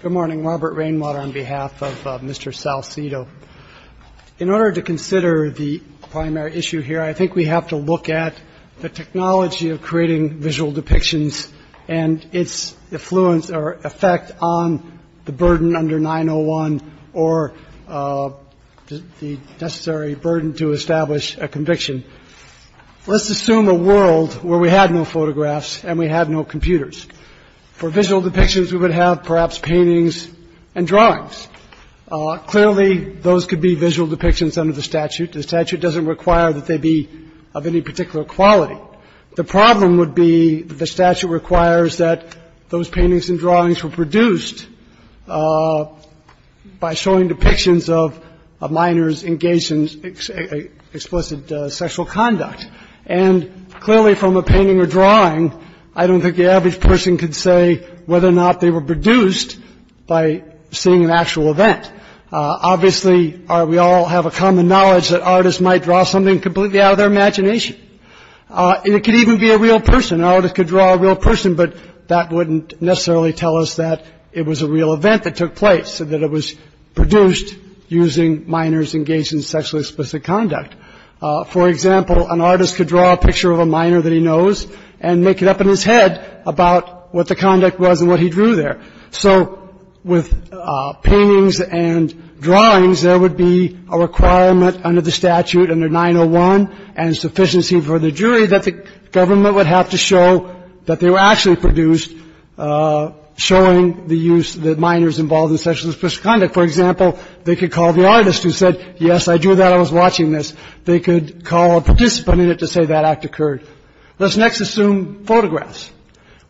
Good morning, Robert Rainwater on behalf of Mr. Salcido. In order to consider the primary issue here, I think we have to look at the technology of creating visual depictions and its influence or effect on the burden under 901 or the necessary burden to establish a conviction. Let's assume a world where we had no photographs and we had no computers. For visual depictions, we would have perhaps paintings and drawings. Clearly, those could be visual depictions under the statute. The statute doesn't require that they be of any particular quality. The problem would be that the statute requires that those paintings and drawings were produced by showing depictions of minors engaged in explicit sexual conduct. And clearly, from a painting or drawing, I don't think the average person could say whether or not they were produced by seeing an actual event. Obviously, we all have a common knowledge that artists might draw something completely out of their imagination. And it could even be a real person. An artist could draw a real person, but that wouldn't necessarily tell us that it was a real event that took place, that it was produced using minors engaged in sexually explicit conduct. For example, an artist could draw a picture of a minor that he knows and make it up in his head about what the conduct was and what he drew there. So with paintings and drawings, there would be a requirement under the statute, under 901 and sufficiency for the jury, that the government would have to show that they were actually produced showing the use that minors involved in sexual explicit conduct. For example, they could call the artist who said, yes, I drew that. I was watching this. They could call a participant in it to say that act occurred. Let's next assume photographs.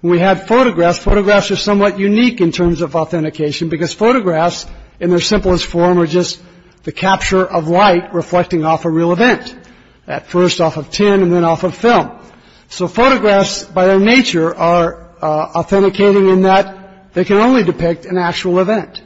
We have photographs. Photographs are somewhat unique in terms of authentication because photographs in their simplest form are just the capture of light reflecting off a real event, at first off of tin and then off of film. So photographs, by their nature, are authenticating in that they can only depict an actual event.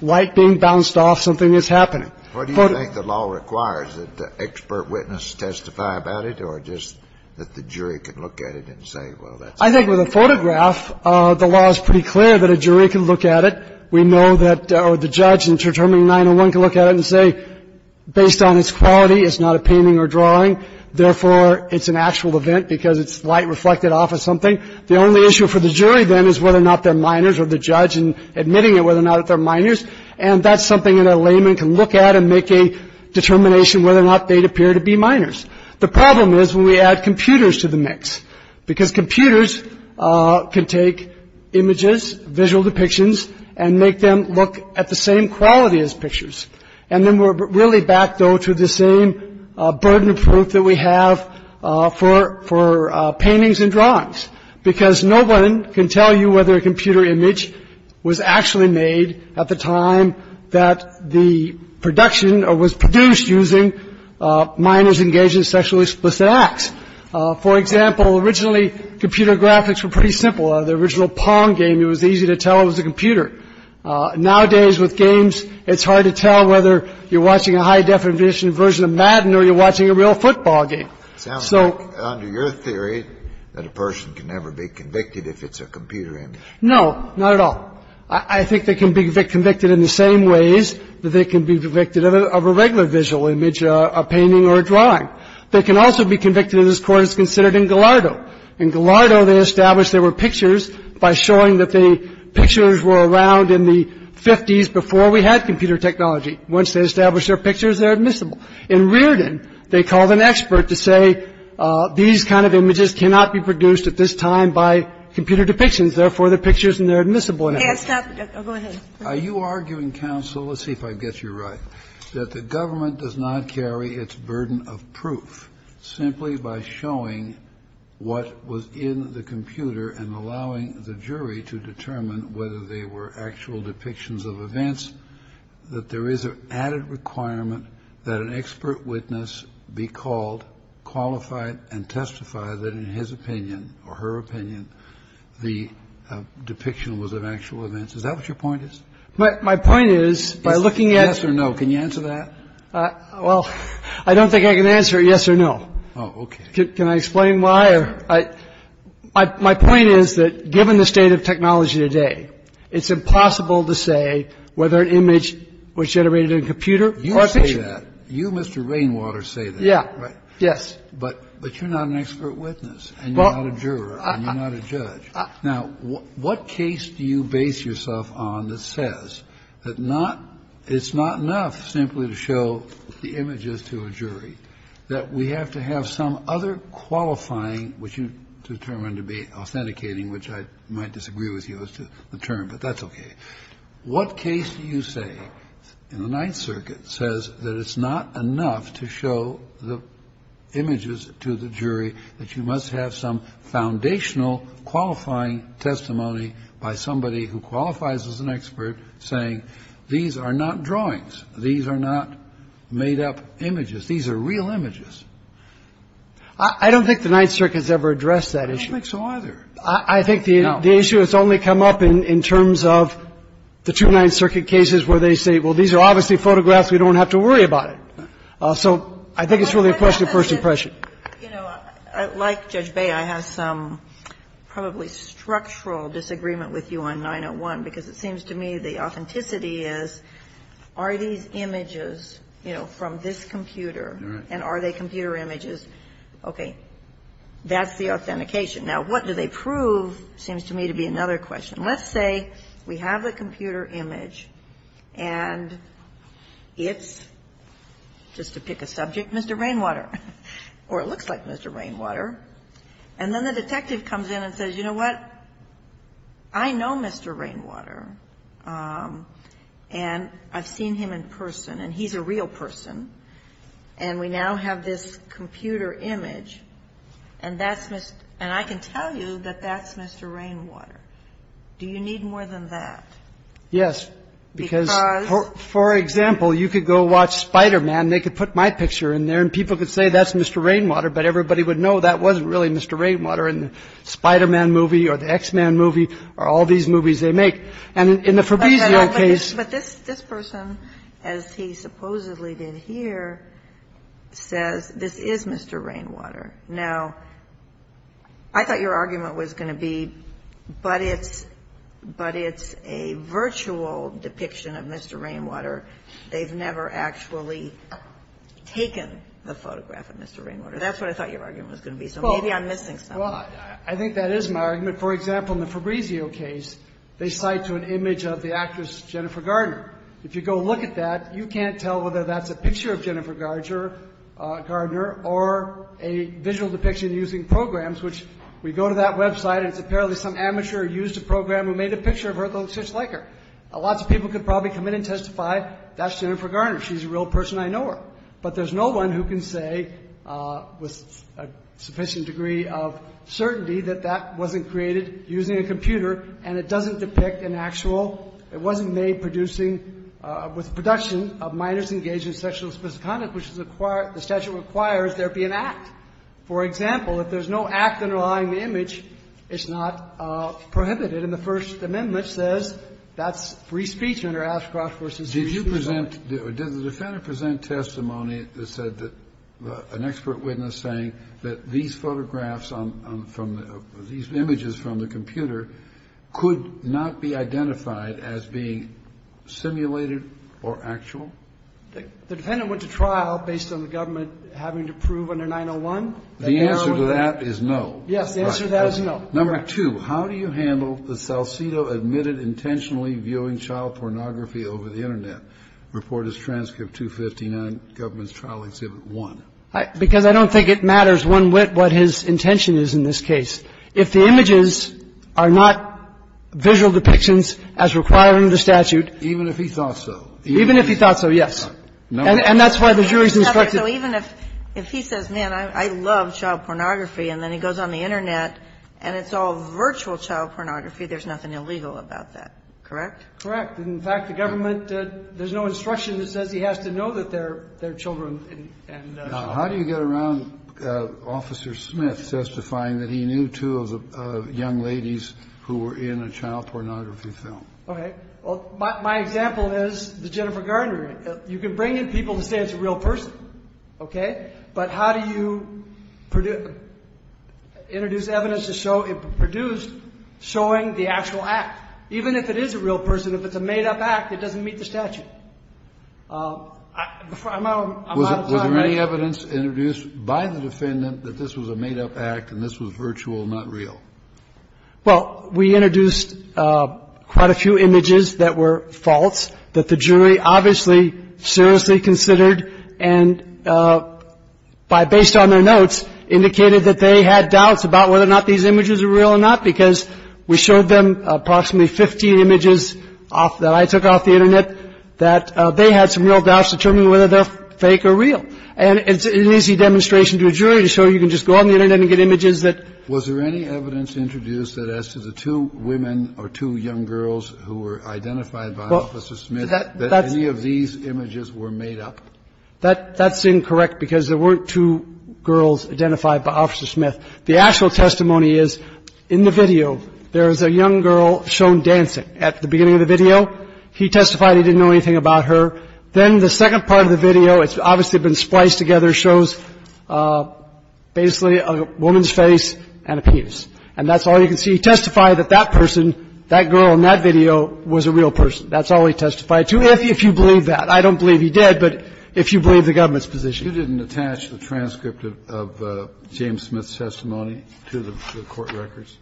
Light being bounced off, something is happening. What do you think the law requires, that the expert witness testify about it or just that the jury can look at it and say, well, that's it? I think with a photograph, the law is pretty clear that a jury can look at it. We know that the judge in determining 901 can look at it and say, based on its quality, it's not a painting or drawing. Therefore, it's an actual event because it's light reflected off of something. The only issue for the jury then is whether or not they're minors or the judge in admitting it, whether or not they're minors. And that's something that a layman can look at and make a determination whether or not they'd appear to be minors. The problem is when we add computers to the mix, because computers can take images, visual depictions and make them look at the same quality as pictures. And then we're really back, though, to the same burden of proof that we have for for paintings and drawings, because no one can tell you whether a computer image was actually made at the time that the production was produced, using minors engaged in sexually explicit acts. For example, originally, computer graphics were pretty simple. The original Pong game, it was easy to tell it was a computer. Nowadays, with games, it's hard to tell whether you're watching a high-definition version of Madden or you're watching a real football game. So under your theory that a person can never be convicted if it's a computer image. No, not at all. I think they can be convicted in the same ways that they can be convicted of a regular visual image, a painting or a drawing. They can also be convicted in this Court as considered in Gallardo. In Gallardo, they established there were pictures by showing that the pictures were around in the 50s before we had computer technology. Once they established their pictures, they're admissible. In Rearden, they called an expert to say these kind of images cannot be produced at this time by computer depictions. Therefore, the pictures are admissible now. Are you arguing, counsel, let's see if I get you right, that the government does not carry its burden of proof simply by showing what was in the computer and allowing the jury to determine whether they were actual depictions of events, that there is an added requirement that an expert witness be called, qualified, and testify that in his opinion or her opinion, the depiction was of actual events? Is that what your point is? My point is, by looking at. Yes or no. Can you answer that? Well, I don't think I can answer yes or no. Oh, OK. Can I explain why? My point is that given the state of technology today, it's impossible to say whether an image was generated in a computer. You say that. You, Mr. Rainwater, say that. Yeah. Yes. But but you're not an expert witness and you're not a juror and you're not a judge. Now, what case do you base yourself on that says that not it's not enough simply to show the images to a jury, that we have to have some other qualifying, which you determined to be authenticating, which I might disagree with you as to the term, but that's OK. What case do you say in the Ninth Circuit says that it's not enough to show the images to the jury, that you must have some foundational qualifying testimony by somebody who qualifies as an expert saying these are not drawings. These are not made up images. These are real images. I don't think the Ninth Circuit has ever addressed that issue. I don't think so either. I think the issue has only come up in terms of the two Ninth Circuit cases where they say, well, these are obviously photographs. We don't have to worry about it. So I think it's really a question of first impression. You know, like Judge Bay, I have some probably structural disagreement with you on 901, because it seems to me the authenticity is, are these images, you know, from this computer and are they computer images? OK, that's the authentication. Now, what do they prove seems to me to be another question. Let's say we have a computer image and it's, just to pick a subject, Mr. Rainwater, or it looks like Mr. Rainwater. And then the detective comes in and says, you know what, I know Mr. Rainwater and I've seen him in person and he's a real person. And we now have this computer image and that's Mr. And I can tell you that that's Mr. Rainwater. Do you need more than that? Yes, because for example, you could go watch Spider-Man, they could put my picture in there and people could say that's Mr. Rainwater. But everybody would know that wasn't really Mr. Rainwater in the Spider-Man movie or the X-Men movie or all these movies they make. And in the Fabrizio case. But this this person, as he supposedly did here, says this is Mr. Rainwater. Now, I thought your argument was going to be, but it's but it's a virtual depiction of Mr. Rainwater. They've never actually taken the photograph of Mr. Rainwater. That's what I thought your argument was going to be. So maybe I'm missing something. Well, I think that is my argument. For example, in the Fabrizio case, they cite to an image of the actress Jennifer Gardner. If you go look at that, you can't tell whether that's a picture of Jennifer Gardner or a visual depiction using programs, which we go to that website. It's apparently some amateur used a program who made a picture of her that looks just like her. Lots of people could probably come in and testify that's Jennifer Gardner. She's a real person. I know her. But there's no one who can say with a sufficient degree of certainty that that wasn't created using a computer and it doesn't depict an actual – it wasn't made producing – with production of minors engaged in sexual and specific conduct, which is a – the statute requires there be an act. For example, if there's no act underlying the image, it's not prohibited. And the First Amendment says that's free speech under Ashcroft v. Hughes. Kennedy, did the defendant present testimony that said that – an expert witness saying that these photographs from the – these images from the computer could not be identified as being simulated or actual? The defendant went to trial based on the government having to prove under 901 that they were – The answer to that is no. Yes. The answer to that is no. Number two, how do you handle the Salcido admitted intentionally viewing child pornography over the Internet, Report as Transcript 259, Government's Trial Exhibit 1? Because I don't think it matters one whit what his intention is in this case. If the images are not visual depictions as required under the statute – Even if he thought so. Even if he thought so, yes. And that's why the jury's instructed – So even if he says, man, I love child pornography, and then he goes on the Internet and it's all virtual child pornography, there's nothing illegal about that, correct? Correct. In fact, the government – there's no instruction that says he has to know that they're children. Now, how do you get around Officer Smith testifying that he knew two of the young ladies who were in a child pornography film? Okay. Well, my example is the Jennifer Garner. You can bring in people to say it's a real person, okay? But how do you introduce evidence to show it produced showing the actual act? Even if it is a real person, if it's a made-up act, it doesn't meet the statute. I'm out of time, right? Was there any evidence introduced by the defendant that this was a made-up act and this was virtual, not real? Well, we introduced quite a few images that were false that the jury obviously seriously considered and by – based on their notes, indicated that they had doubts about whether or not these images are real or not because we showed them approximately 15 images off – that I took off the Internet that they had some real doubts determining whether they're fake or real. And it's an easy demonstration to a jury to show you can just go on the Internet and get images that – Was there any evidence introduced that as to the two women or two young girls who were identified by Officer Smith that any of these images were made up? That's incorrect because there weren't two girls identified by Officer Smith. The actual testimony is, in the video, there is a young girl shown dancing at the beginning of the video. He testified he didn't know anything about her. Then the second part of the video, it's obviously been spliced together, shows basically a woman's face and a penis. And that's all you can see. He testified that that person, that girl in that video, was a real person. That's all he testified to, if you believe that. I don't believe he did, but if you believe the government's position. Kennedy, you didn't attach the transcript of James Smith's testimony to the court records?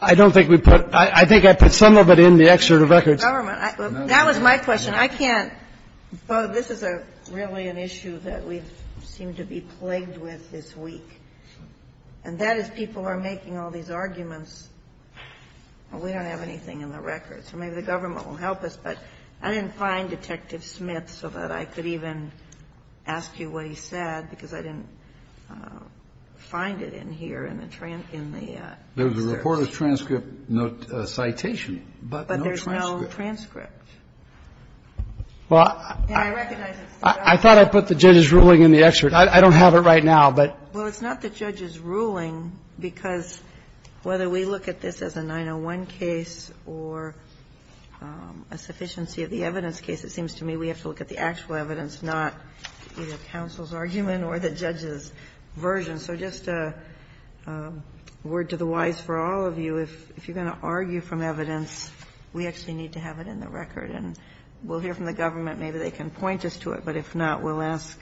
I don't think we put – I think I put some of it in the excerpt of records. The government – that was my question. I can't – this is a really an issue that we seem to be plagued with this week. And that is people are making all these arguments. We don't have anything in the records. So maybe the government will help us. But I didn't find Detective Smith, so that I could even ask you what he said, because I didn't find it in here in the – in the search. There's a reporter's transcript citation, but no transcript. But there's no transcript. Well, I – And I recognize it's the government. I thought I put the judge's ruling in the excerpt. I don't have it right now, but – Well, it's not the judge's ruling, because whether we look at this as a 901 case or a sufficiency of the evidence case, it seems to me we have to look at the actual evidence, not either counsel's argument or the judge's version. So just a word to the wise for all of you, if you're going to argue from evidence, we actually need to have it in the record. And we'll hear from the government. Maybe they can point us to it. But if not, we'll ask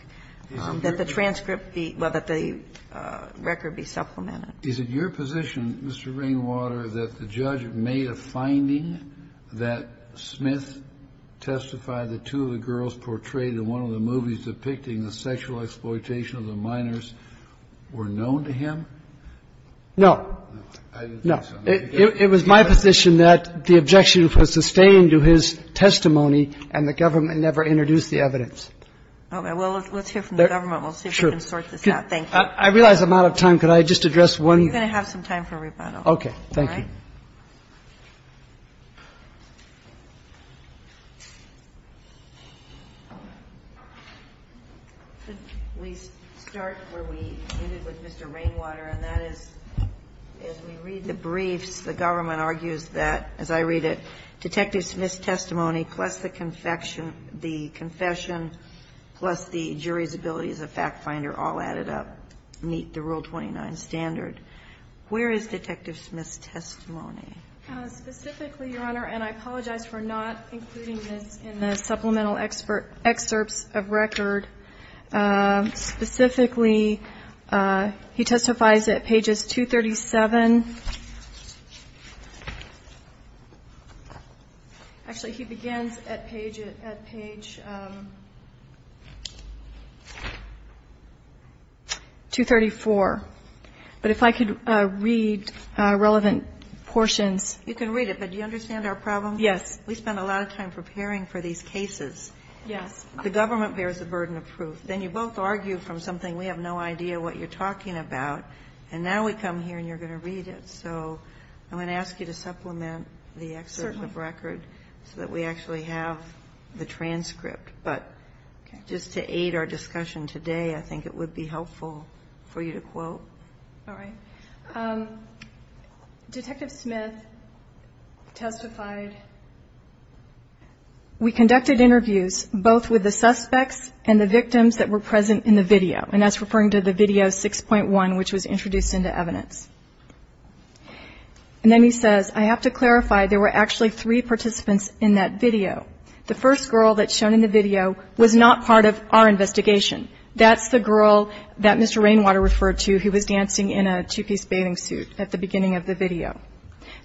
that the transcript be – well, that the transcript be – that the record be supplemented. Is it your position, Mr. Rainwater, that the judge made a finding that Smith testified that two of the girls portrayed in one of the movies depicting the sexual exploitation of the minors were known to him? No. No. It was my position that the objection was sustained to his testimony, and the government never introduced the evidence. Well, let's hear from the government. We'll see if we can sort this out. Thank you. I realize I'm out of time. Could I just address one? We're going to have some time for rebuttal. Okay. Thank you. Could we start where we ended with Mr. Rainwater, and that is, as we read the briefs, the government argues that, as I read it, Detective Smith's testimony plus the confession plus the jury's ability as a fact finder all added up meet the Rule 29 standard. Where is Detective Smith's testimony? Specifically, Your Honor, and I apologize for not including this in the supplemental excerpts of record, specifically, he testifies at pages 237 – actually, he begins at page 234. But if I could read relevant portions. You can read it, but do you understand our problem? Yes. We spend a lot of time preparing for these cases. Yes. The government bears the burden of proof. Then you both argue from something we have no idea what you're talking about, and now we come here and you're going to read it. So I'm going to ask you to supplement the excerpt of record so that we actually have the transcript. But just to aid our discussion today, I think it would be helpful for you to quote. All right. Detective Smith testified, we conducted interviews both with the suspects and the victims that were present in the video, and that's referring to the video 6.1, which was introduced into evidence. And then he says, I have to clarify, there were actually three participants in that video. The first girl that's shown in the video was not part of our investigation. That's the girl that Mr. Rainwater referred to, who was dancing in a two-piece bathing suit at the beginning of the video.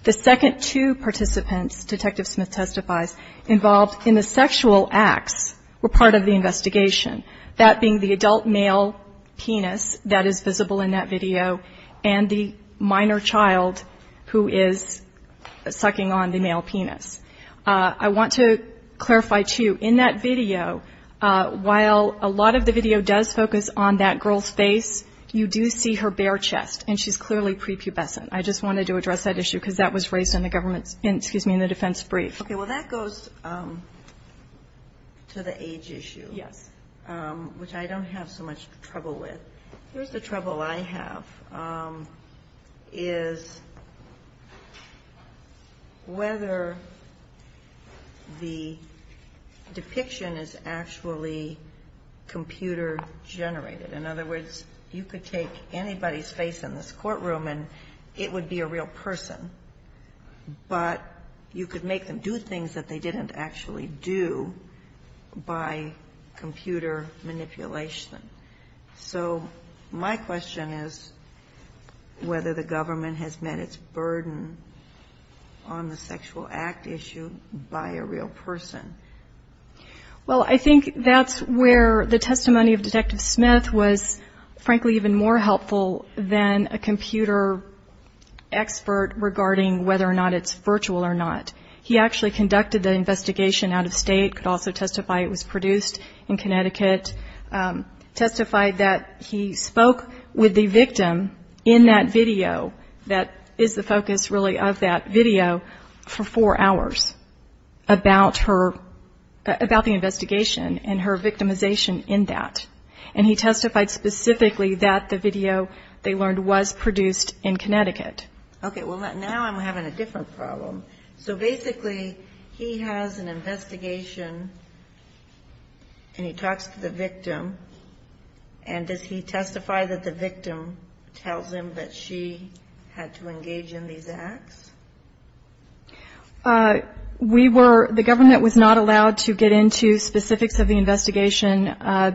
The second two participants, Detective Smith testifies, involved in the sexual acts were part of the investigation, that being the adult male penis that is visible in that video and the minor child who is sucking on the male penis. I want to clarify, too, in that video, while a lot of the video does focus on that girl's face, you do see her bare chest, and she's clearly prepubescent. I just wanted to address that issue because that was raised in the defense brief. Okay, well, that goes to the age issue, which I don't have so much trouble with. Here's the trouble I have, is whether the depiction is actually computer-generated. In other words, you could take anybody's face in this courtroom and it would be a real person, but you could make them do things that they didn't actually do by computer manipulation. So, my question is whether the government has met its burden on the sexual act issue by a real person. Well, I think that's where the testimony of Detective Smith was, frankly, even more helpful than a computer expert regarding whether or not it's virtual or not. He actually conducted the investigation out of state, could also testify it was produced in Connecticut, testified that he spoke with the victim in that video that is the focus really of that video for four hours about her, about the investigation and her victimization in that. And he testified specifically that the video, they learned, was produced in Connecticut. Okay, well, now I'm having a different problem. So basically, he has an investigation and he talks to the victim, and does he testify that the victim tells him that she had to engage in these acts? We were, the government was not allowed to get into specifics of the investigation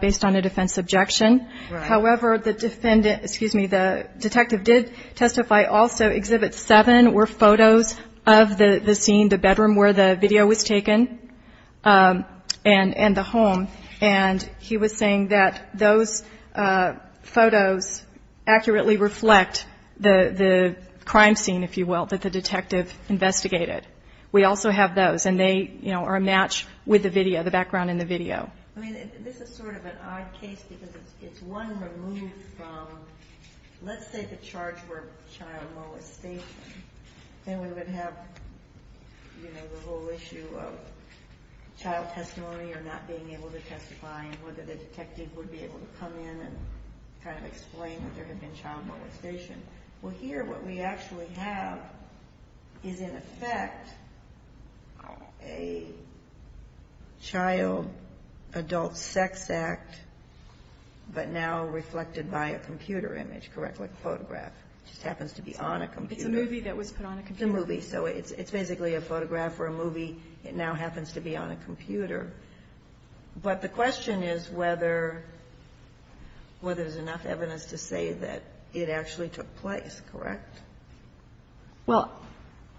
based on a defense objection, however, the defendant, excuse me, the detective did testify also that Exhibit 7 were photos of the scene, the bedroom where the video was taken, and the home. And he was saying that those photos accurately reflect the crime scene, if you will, that the detective investigated. We also have those, and they, you know, are a match with the video, the background in the video. I mean, this is sort of an odd case because it's one removed from, let's say, the charge of child molestation. Then we would have, you know, the whole issue of child testimony or not being able to testify, and whether the detective would be able to come in and kind of explain that there had been child molestation. Well, here, what we actually have is, in effect, a child adult sex act, but now reflected by a computer image, correct, like a photograph. It just happens to be on a computer. It's a movie that was put on a computer. It's a movie. So it's basically a photograph or a movie. It now happens to be on a computer. But the question is whether there's enough evidence to say that it actually took place, correct? Well,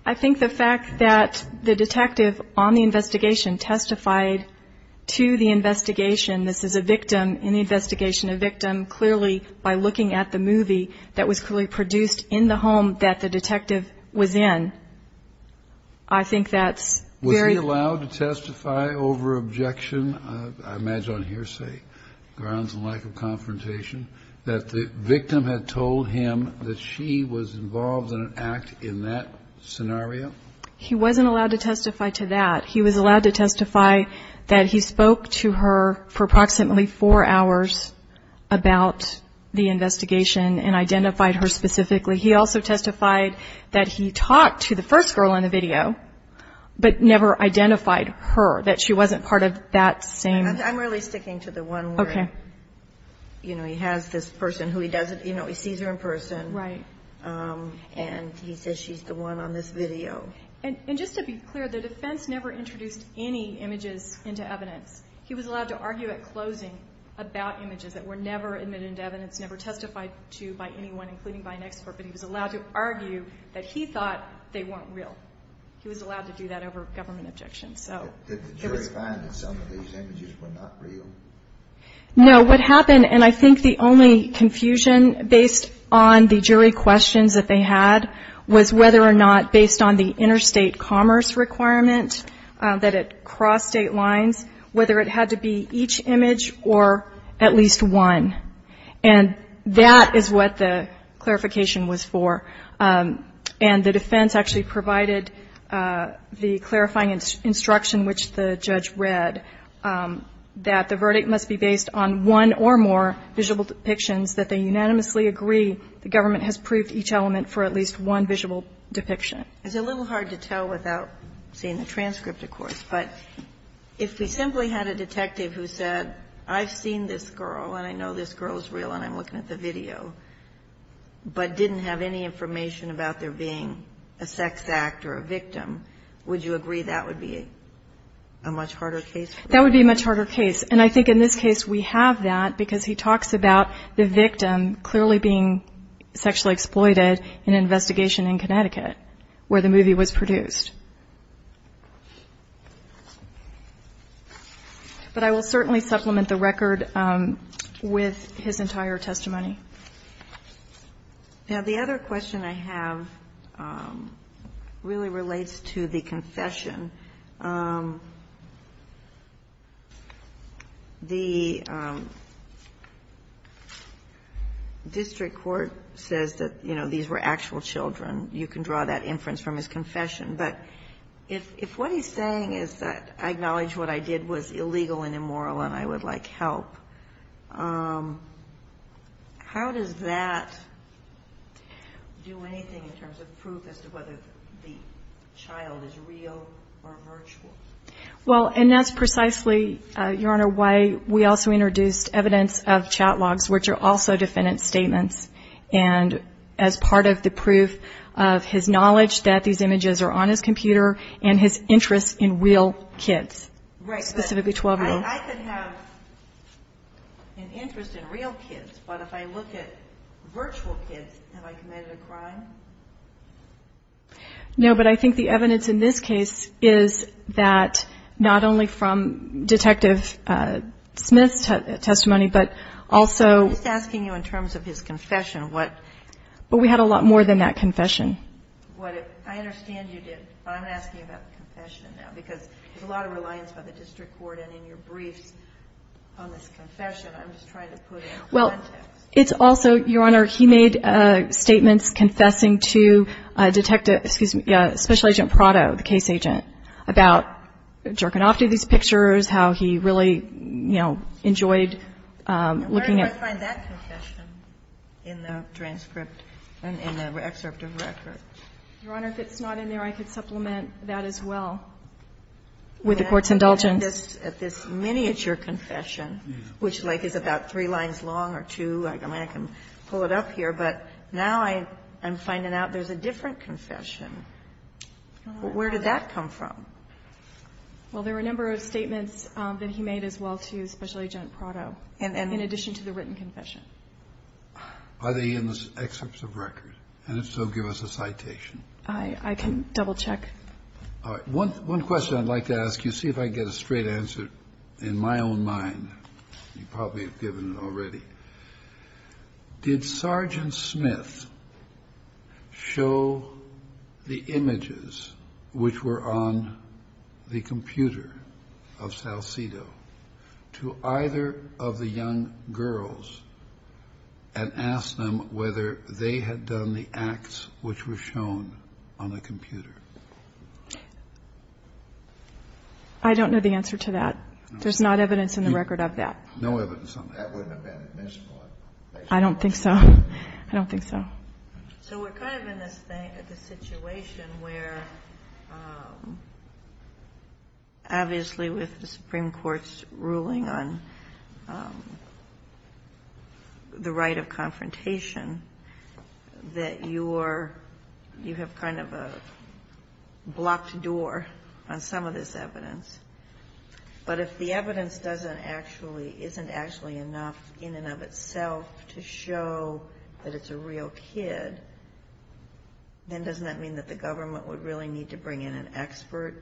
I think the fact that the detective on the investigation testified to the investigation, this is a victim in the investigation, a victim, clearly by looking at the movie, that was basically produced in the home that the detective was in. I think that's very... Was he allowed to testify over objection, I imagine on hearsay, grounds of lack of confrontation, that the victim had told him that she was involved in an act in that scenario? He wasn't allowed to testify to that. He was allowed to testify that he spoke to her for approximately four hours about the murder, specifically. He also testified that he talked to the first girl in the video, but never identified her, that she wasn't part of that same... I'm really sticking to the one where, you know, he has this person who he doesn't, you know, he sees her in person. Right. And he says she's the one on this video. And just to be clear, the defense never introduced any images into evidence. He was allowed to argue at closing about images that were never admitted into evidence, never testified to by anyone, including by an expert. But he was allowed to argue that he thought they weren't real. He was allowed to do that over government objection. So it was... Did the jury find that some of these images were not real? No. What happened, and I think the only confusion based on the jury questions that they had, was whether or not, based on the interstate commerce requirement that it crossed state lines, whether it had to be each image or at least one. And that is what the clarification was for. And the defense actually provided the clarifying instruction which the judge read, that the verdict must be based on one or more visual depictions that they unanimously agree the government has proved each element for at least one visual depiction. It's a little hard to tell without seeing the transcript, of course, but if we simply had a detective who said, I've seen this girl and I know this girl is real and I'm looking at the video, but didn't have any information about there being a sex act or a victim, would you agree that would be a much harder case? That would be a much harder case. And I think in this case we have that because he talks about the victim clearly being sexually exploited in an investigation in Connecticut where the movie was produced. But I will certainly supplement the record with his entire testimony. Now, the other question I have really relates to the confession. The district court says that, you know, these were actual children. You can draw that inference from his confession. But if what he's saying is that I acknowledge what I did was illegal and immoral and I would like help, how does that do anything in terms of proof as to whether the child is real or virtual? Well, and that's precisely, Your Honor, why we also introduced evidence of chat logs, which are also defendant statements. And as part of the proof of his knowledge that these images are on his computer and his interest in real kids, specifically 12-year-olds. Right, but I could have an interest in real kids, but if I look at virtual kids, have I committed a crime? No, but I think the evidence in this case is that not only from Detective Smith's testimony, but also... I'm just asking you in terms of his confession, what... But we had a lot more than that confession. I understand you did, but I'm asking about the confession now, because there's a lot of reliance by the district court and in your briefs on this confession. I'm just trying to put it in context. Well, it's also, Your Honor, he made statements confessing to Detective, excuse me, Special Agent Prado, the case agent, about Djergonofti, these pictures, how he really, you know, enjoyed looking at... Where did I find that confession in the transcript, in the excerpt of the record? Your Honor, if it's not in there, I could supplement that as well. With the Court's indulgence. At this miniature confession, which, like, is about three lines long or two. I mean, I can pull it up here, but now I'm finding out there's a different confession. Where did that come from? Well, there were a number of statements that he made as well to Special Agent Prado, in addition to the written confession. Are they in the excerpts of record? And if so, give us a citation. I can double-check. All right. One question I'd like to ask you, see if I can get a straight answer in my own mind. You probably have given it already. Did Sergeant Smith show the images which were on the computer of Salcido to either of the young girls and ask them whether they had done the acts which were shown on the computer? I don't know the answer to that. There's not evidence in the record of that. No evidence on that. That wouldn't have been admissible. I don't think so. I don't think so. So we're kind of in this situation where, obviously, with the Supreme Court's ruling on the right of confrontation, that you have kind of a blocked door on some of this evidence. But if the evidence doesn't actually, isn't actually enough in and of itself to show that it's a real kid, then doesn't that mean that the government would really need to bring in an expert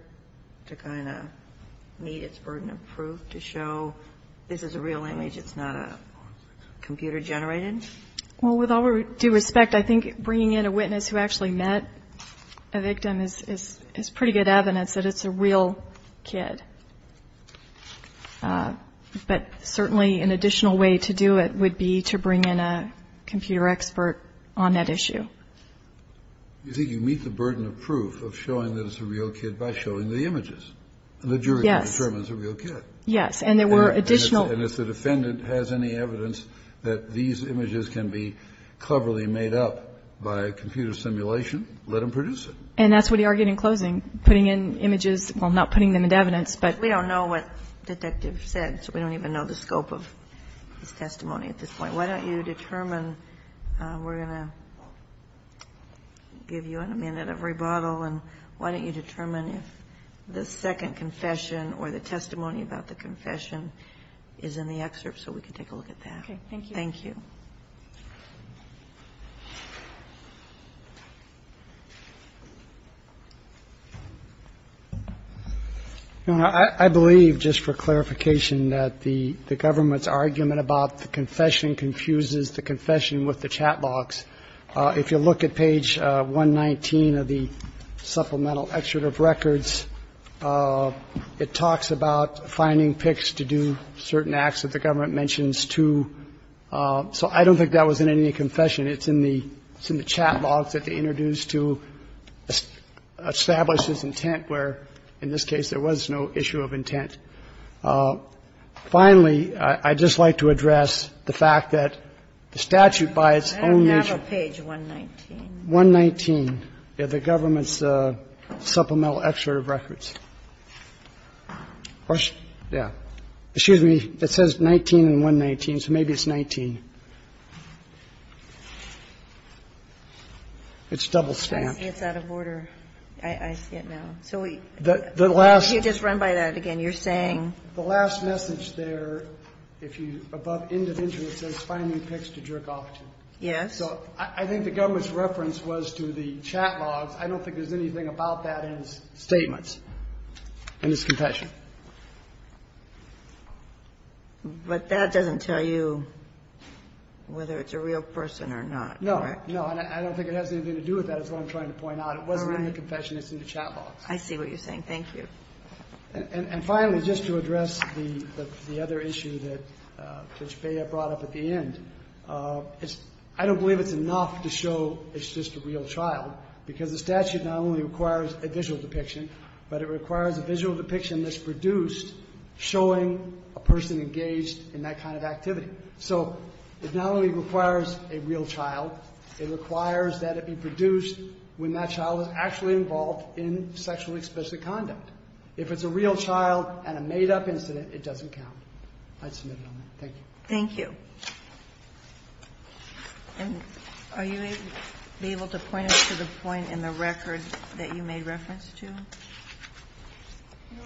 to kind of meet its burden of proof to show this is a real image, it's not a computer-generated? Well, with all due respect, I think bringing in a witness who actually met a victim is pretty good evidence that it's a real kid. But certainly an additional way to do it would be to bring in a computer expert on that issue. Do you think you meet the burden of proof of showing that it's a real kid by showing the images? Yes. The jury determines a real kid. Yes. And there were additional. And if the defendant has any evidence that these images can be cleverly made up by computer simulation, let them produce it. And that's what he argued in closing. Putting in images, well, not putting them in evidence, but. We don't know what the detective said, so we don't even know the scope of his testimony at this point. Why don't you determine, we're going to give you a minute of rebuttal, and why don't you determine if the second confession or the testimony about the confession is in the excerpt so we can take a look at that. Okay. Thank you. Your Honor, I believe, just for clarification, that the government's argument about the confession confuses the confession with the chat box. If you look at page 119 of the supplemental excerpt of records, it talks about finding pics to do certain acts that the government mentions, too. So I don't think that was in any confession. It's in the chat box that they introduced to establish this intent where, in this case, there was no issue of intent. Finally, I'd just like to address the fact that the statute by its own nature. I don't have a page 119. 119 of the government's supplemental excerpt of records. Yeah. Excuse me. It says 19 in 119, so maybe it's 19. It's double-stamped. I see it's out of order. I see it now. So we just run by that again. You're saying? The last message there, if you, above individual, it says finding pics to jerk off to. Yes. So I think the government's reference was to the chat box. I don't think there's anything about that in the statements in this confession. But that doesn't tell you whether it's a real person or not, correct? No. No, and I don't think it has anything to do with that is what I'm trying to point out. It wasn't in the confession. It's in the chat box. I see what you're saying. Thank you. And finally, just to address the other issue that Judge Bea brought up at the end, I don't believe it's enough to show it's just a real child, because the statute not only requires a visual depiction, but it requires a visual depiction that's produced showing a person engaged in that kind of activity. So it not only requires a real child, it requires that it be produced when that child is actually involved in sexually explicit conduct. If it's a real child and a made-up incident, it doesn't count. I'd submit it on that. Thank you. Thank you. And are you able to point us to the point in the record that you made reference to? Your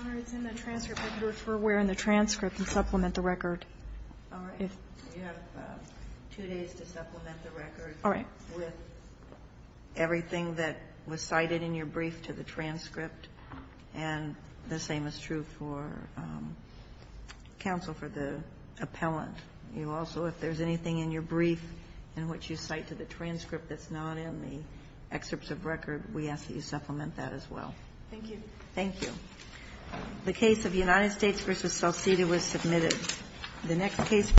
Honor, it's in the transcript. I'd refer where in the transcript and supplement the record. All right. You have two days to supplement the record. All right. With everything that was cited in your brief to the transcript. And the same is true for counsel for the appellant. You also, if there's anything in your brief in which you cite to the transcript that's not in the excerpts of record, we ask that you supplement that as well. Thank you. Thank you. The case of United States v. Salcedo was submitted. The next case.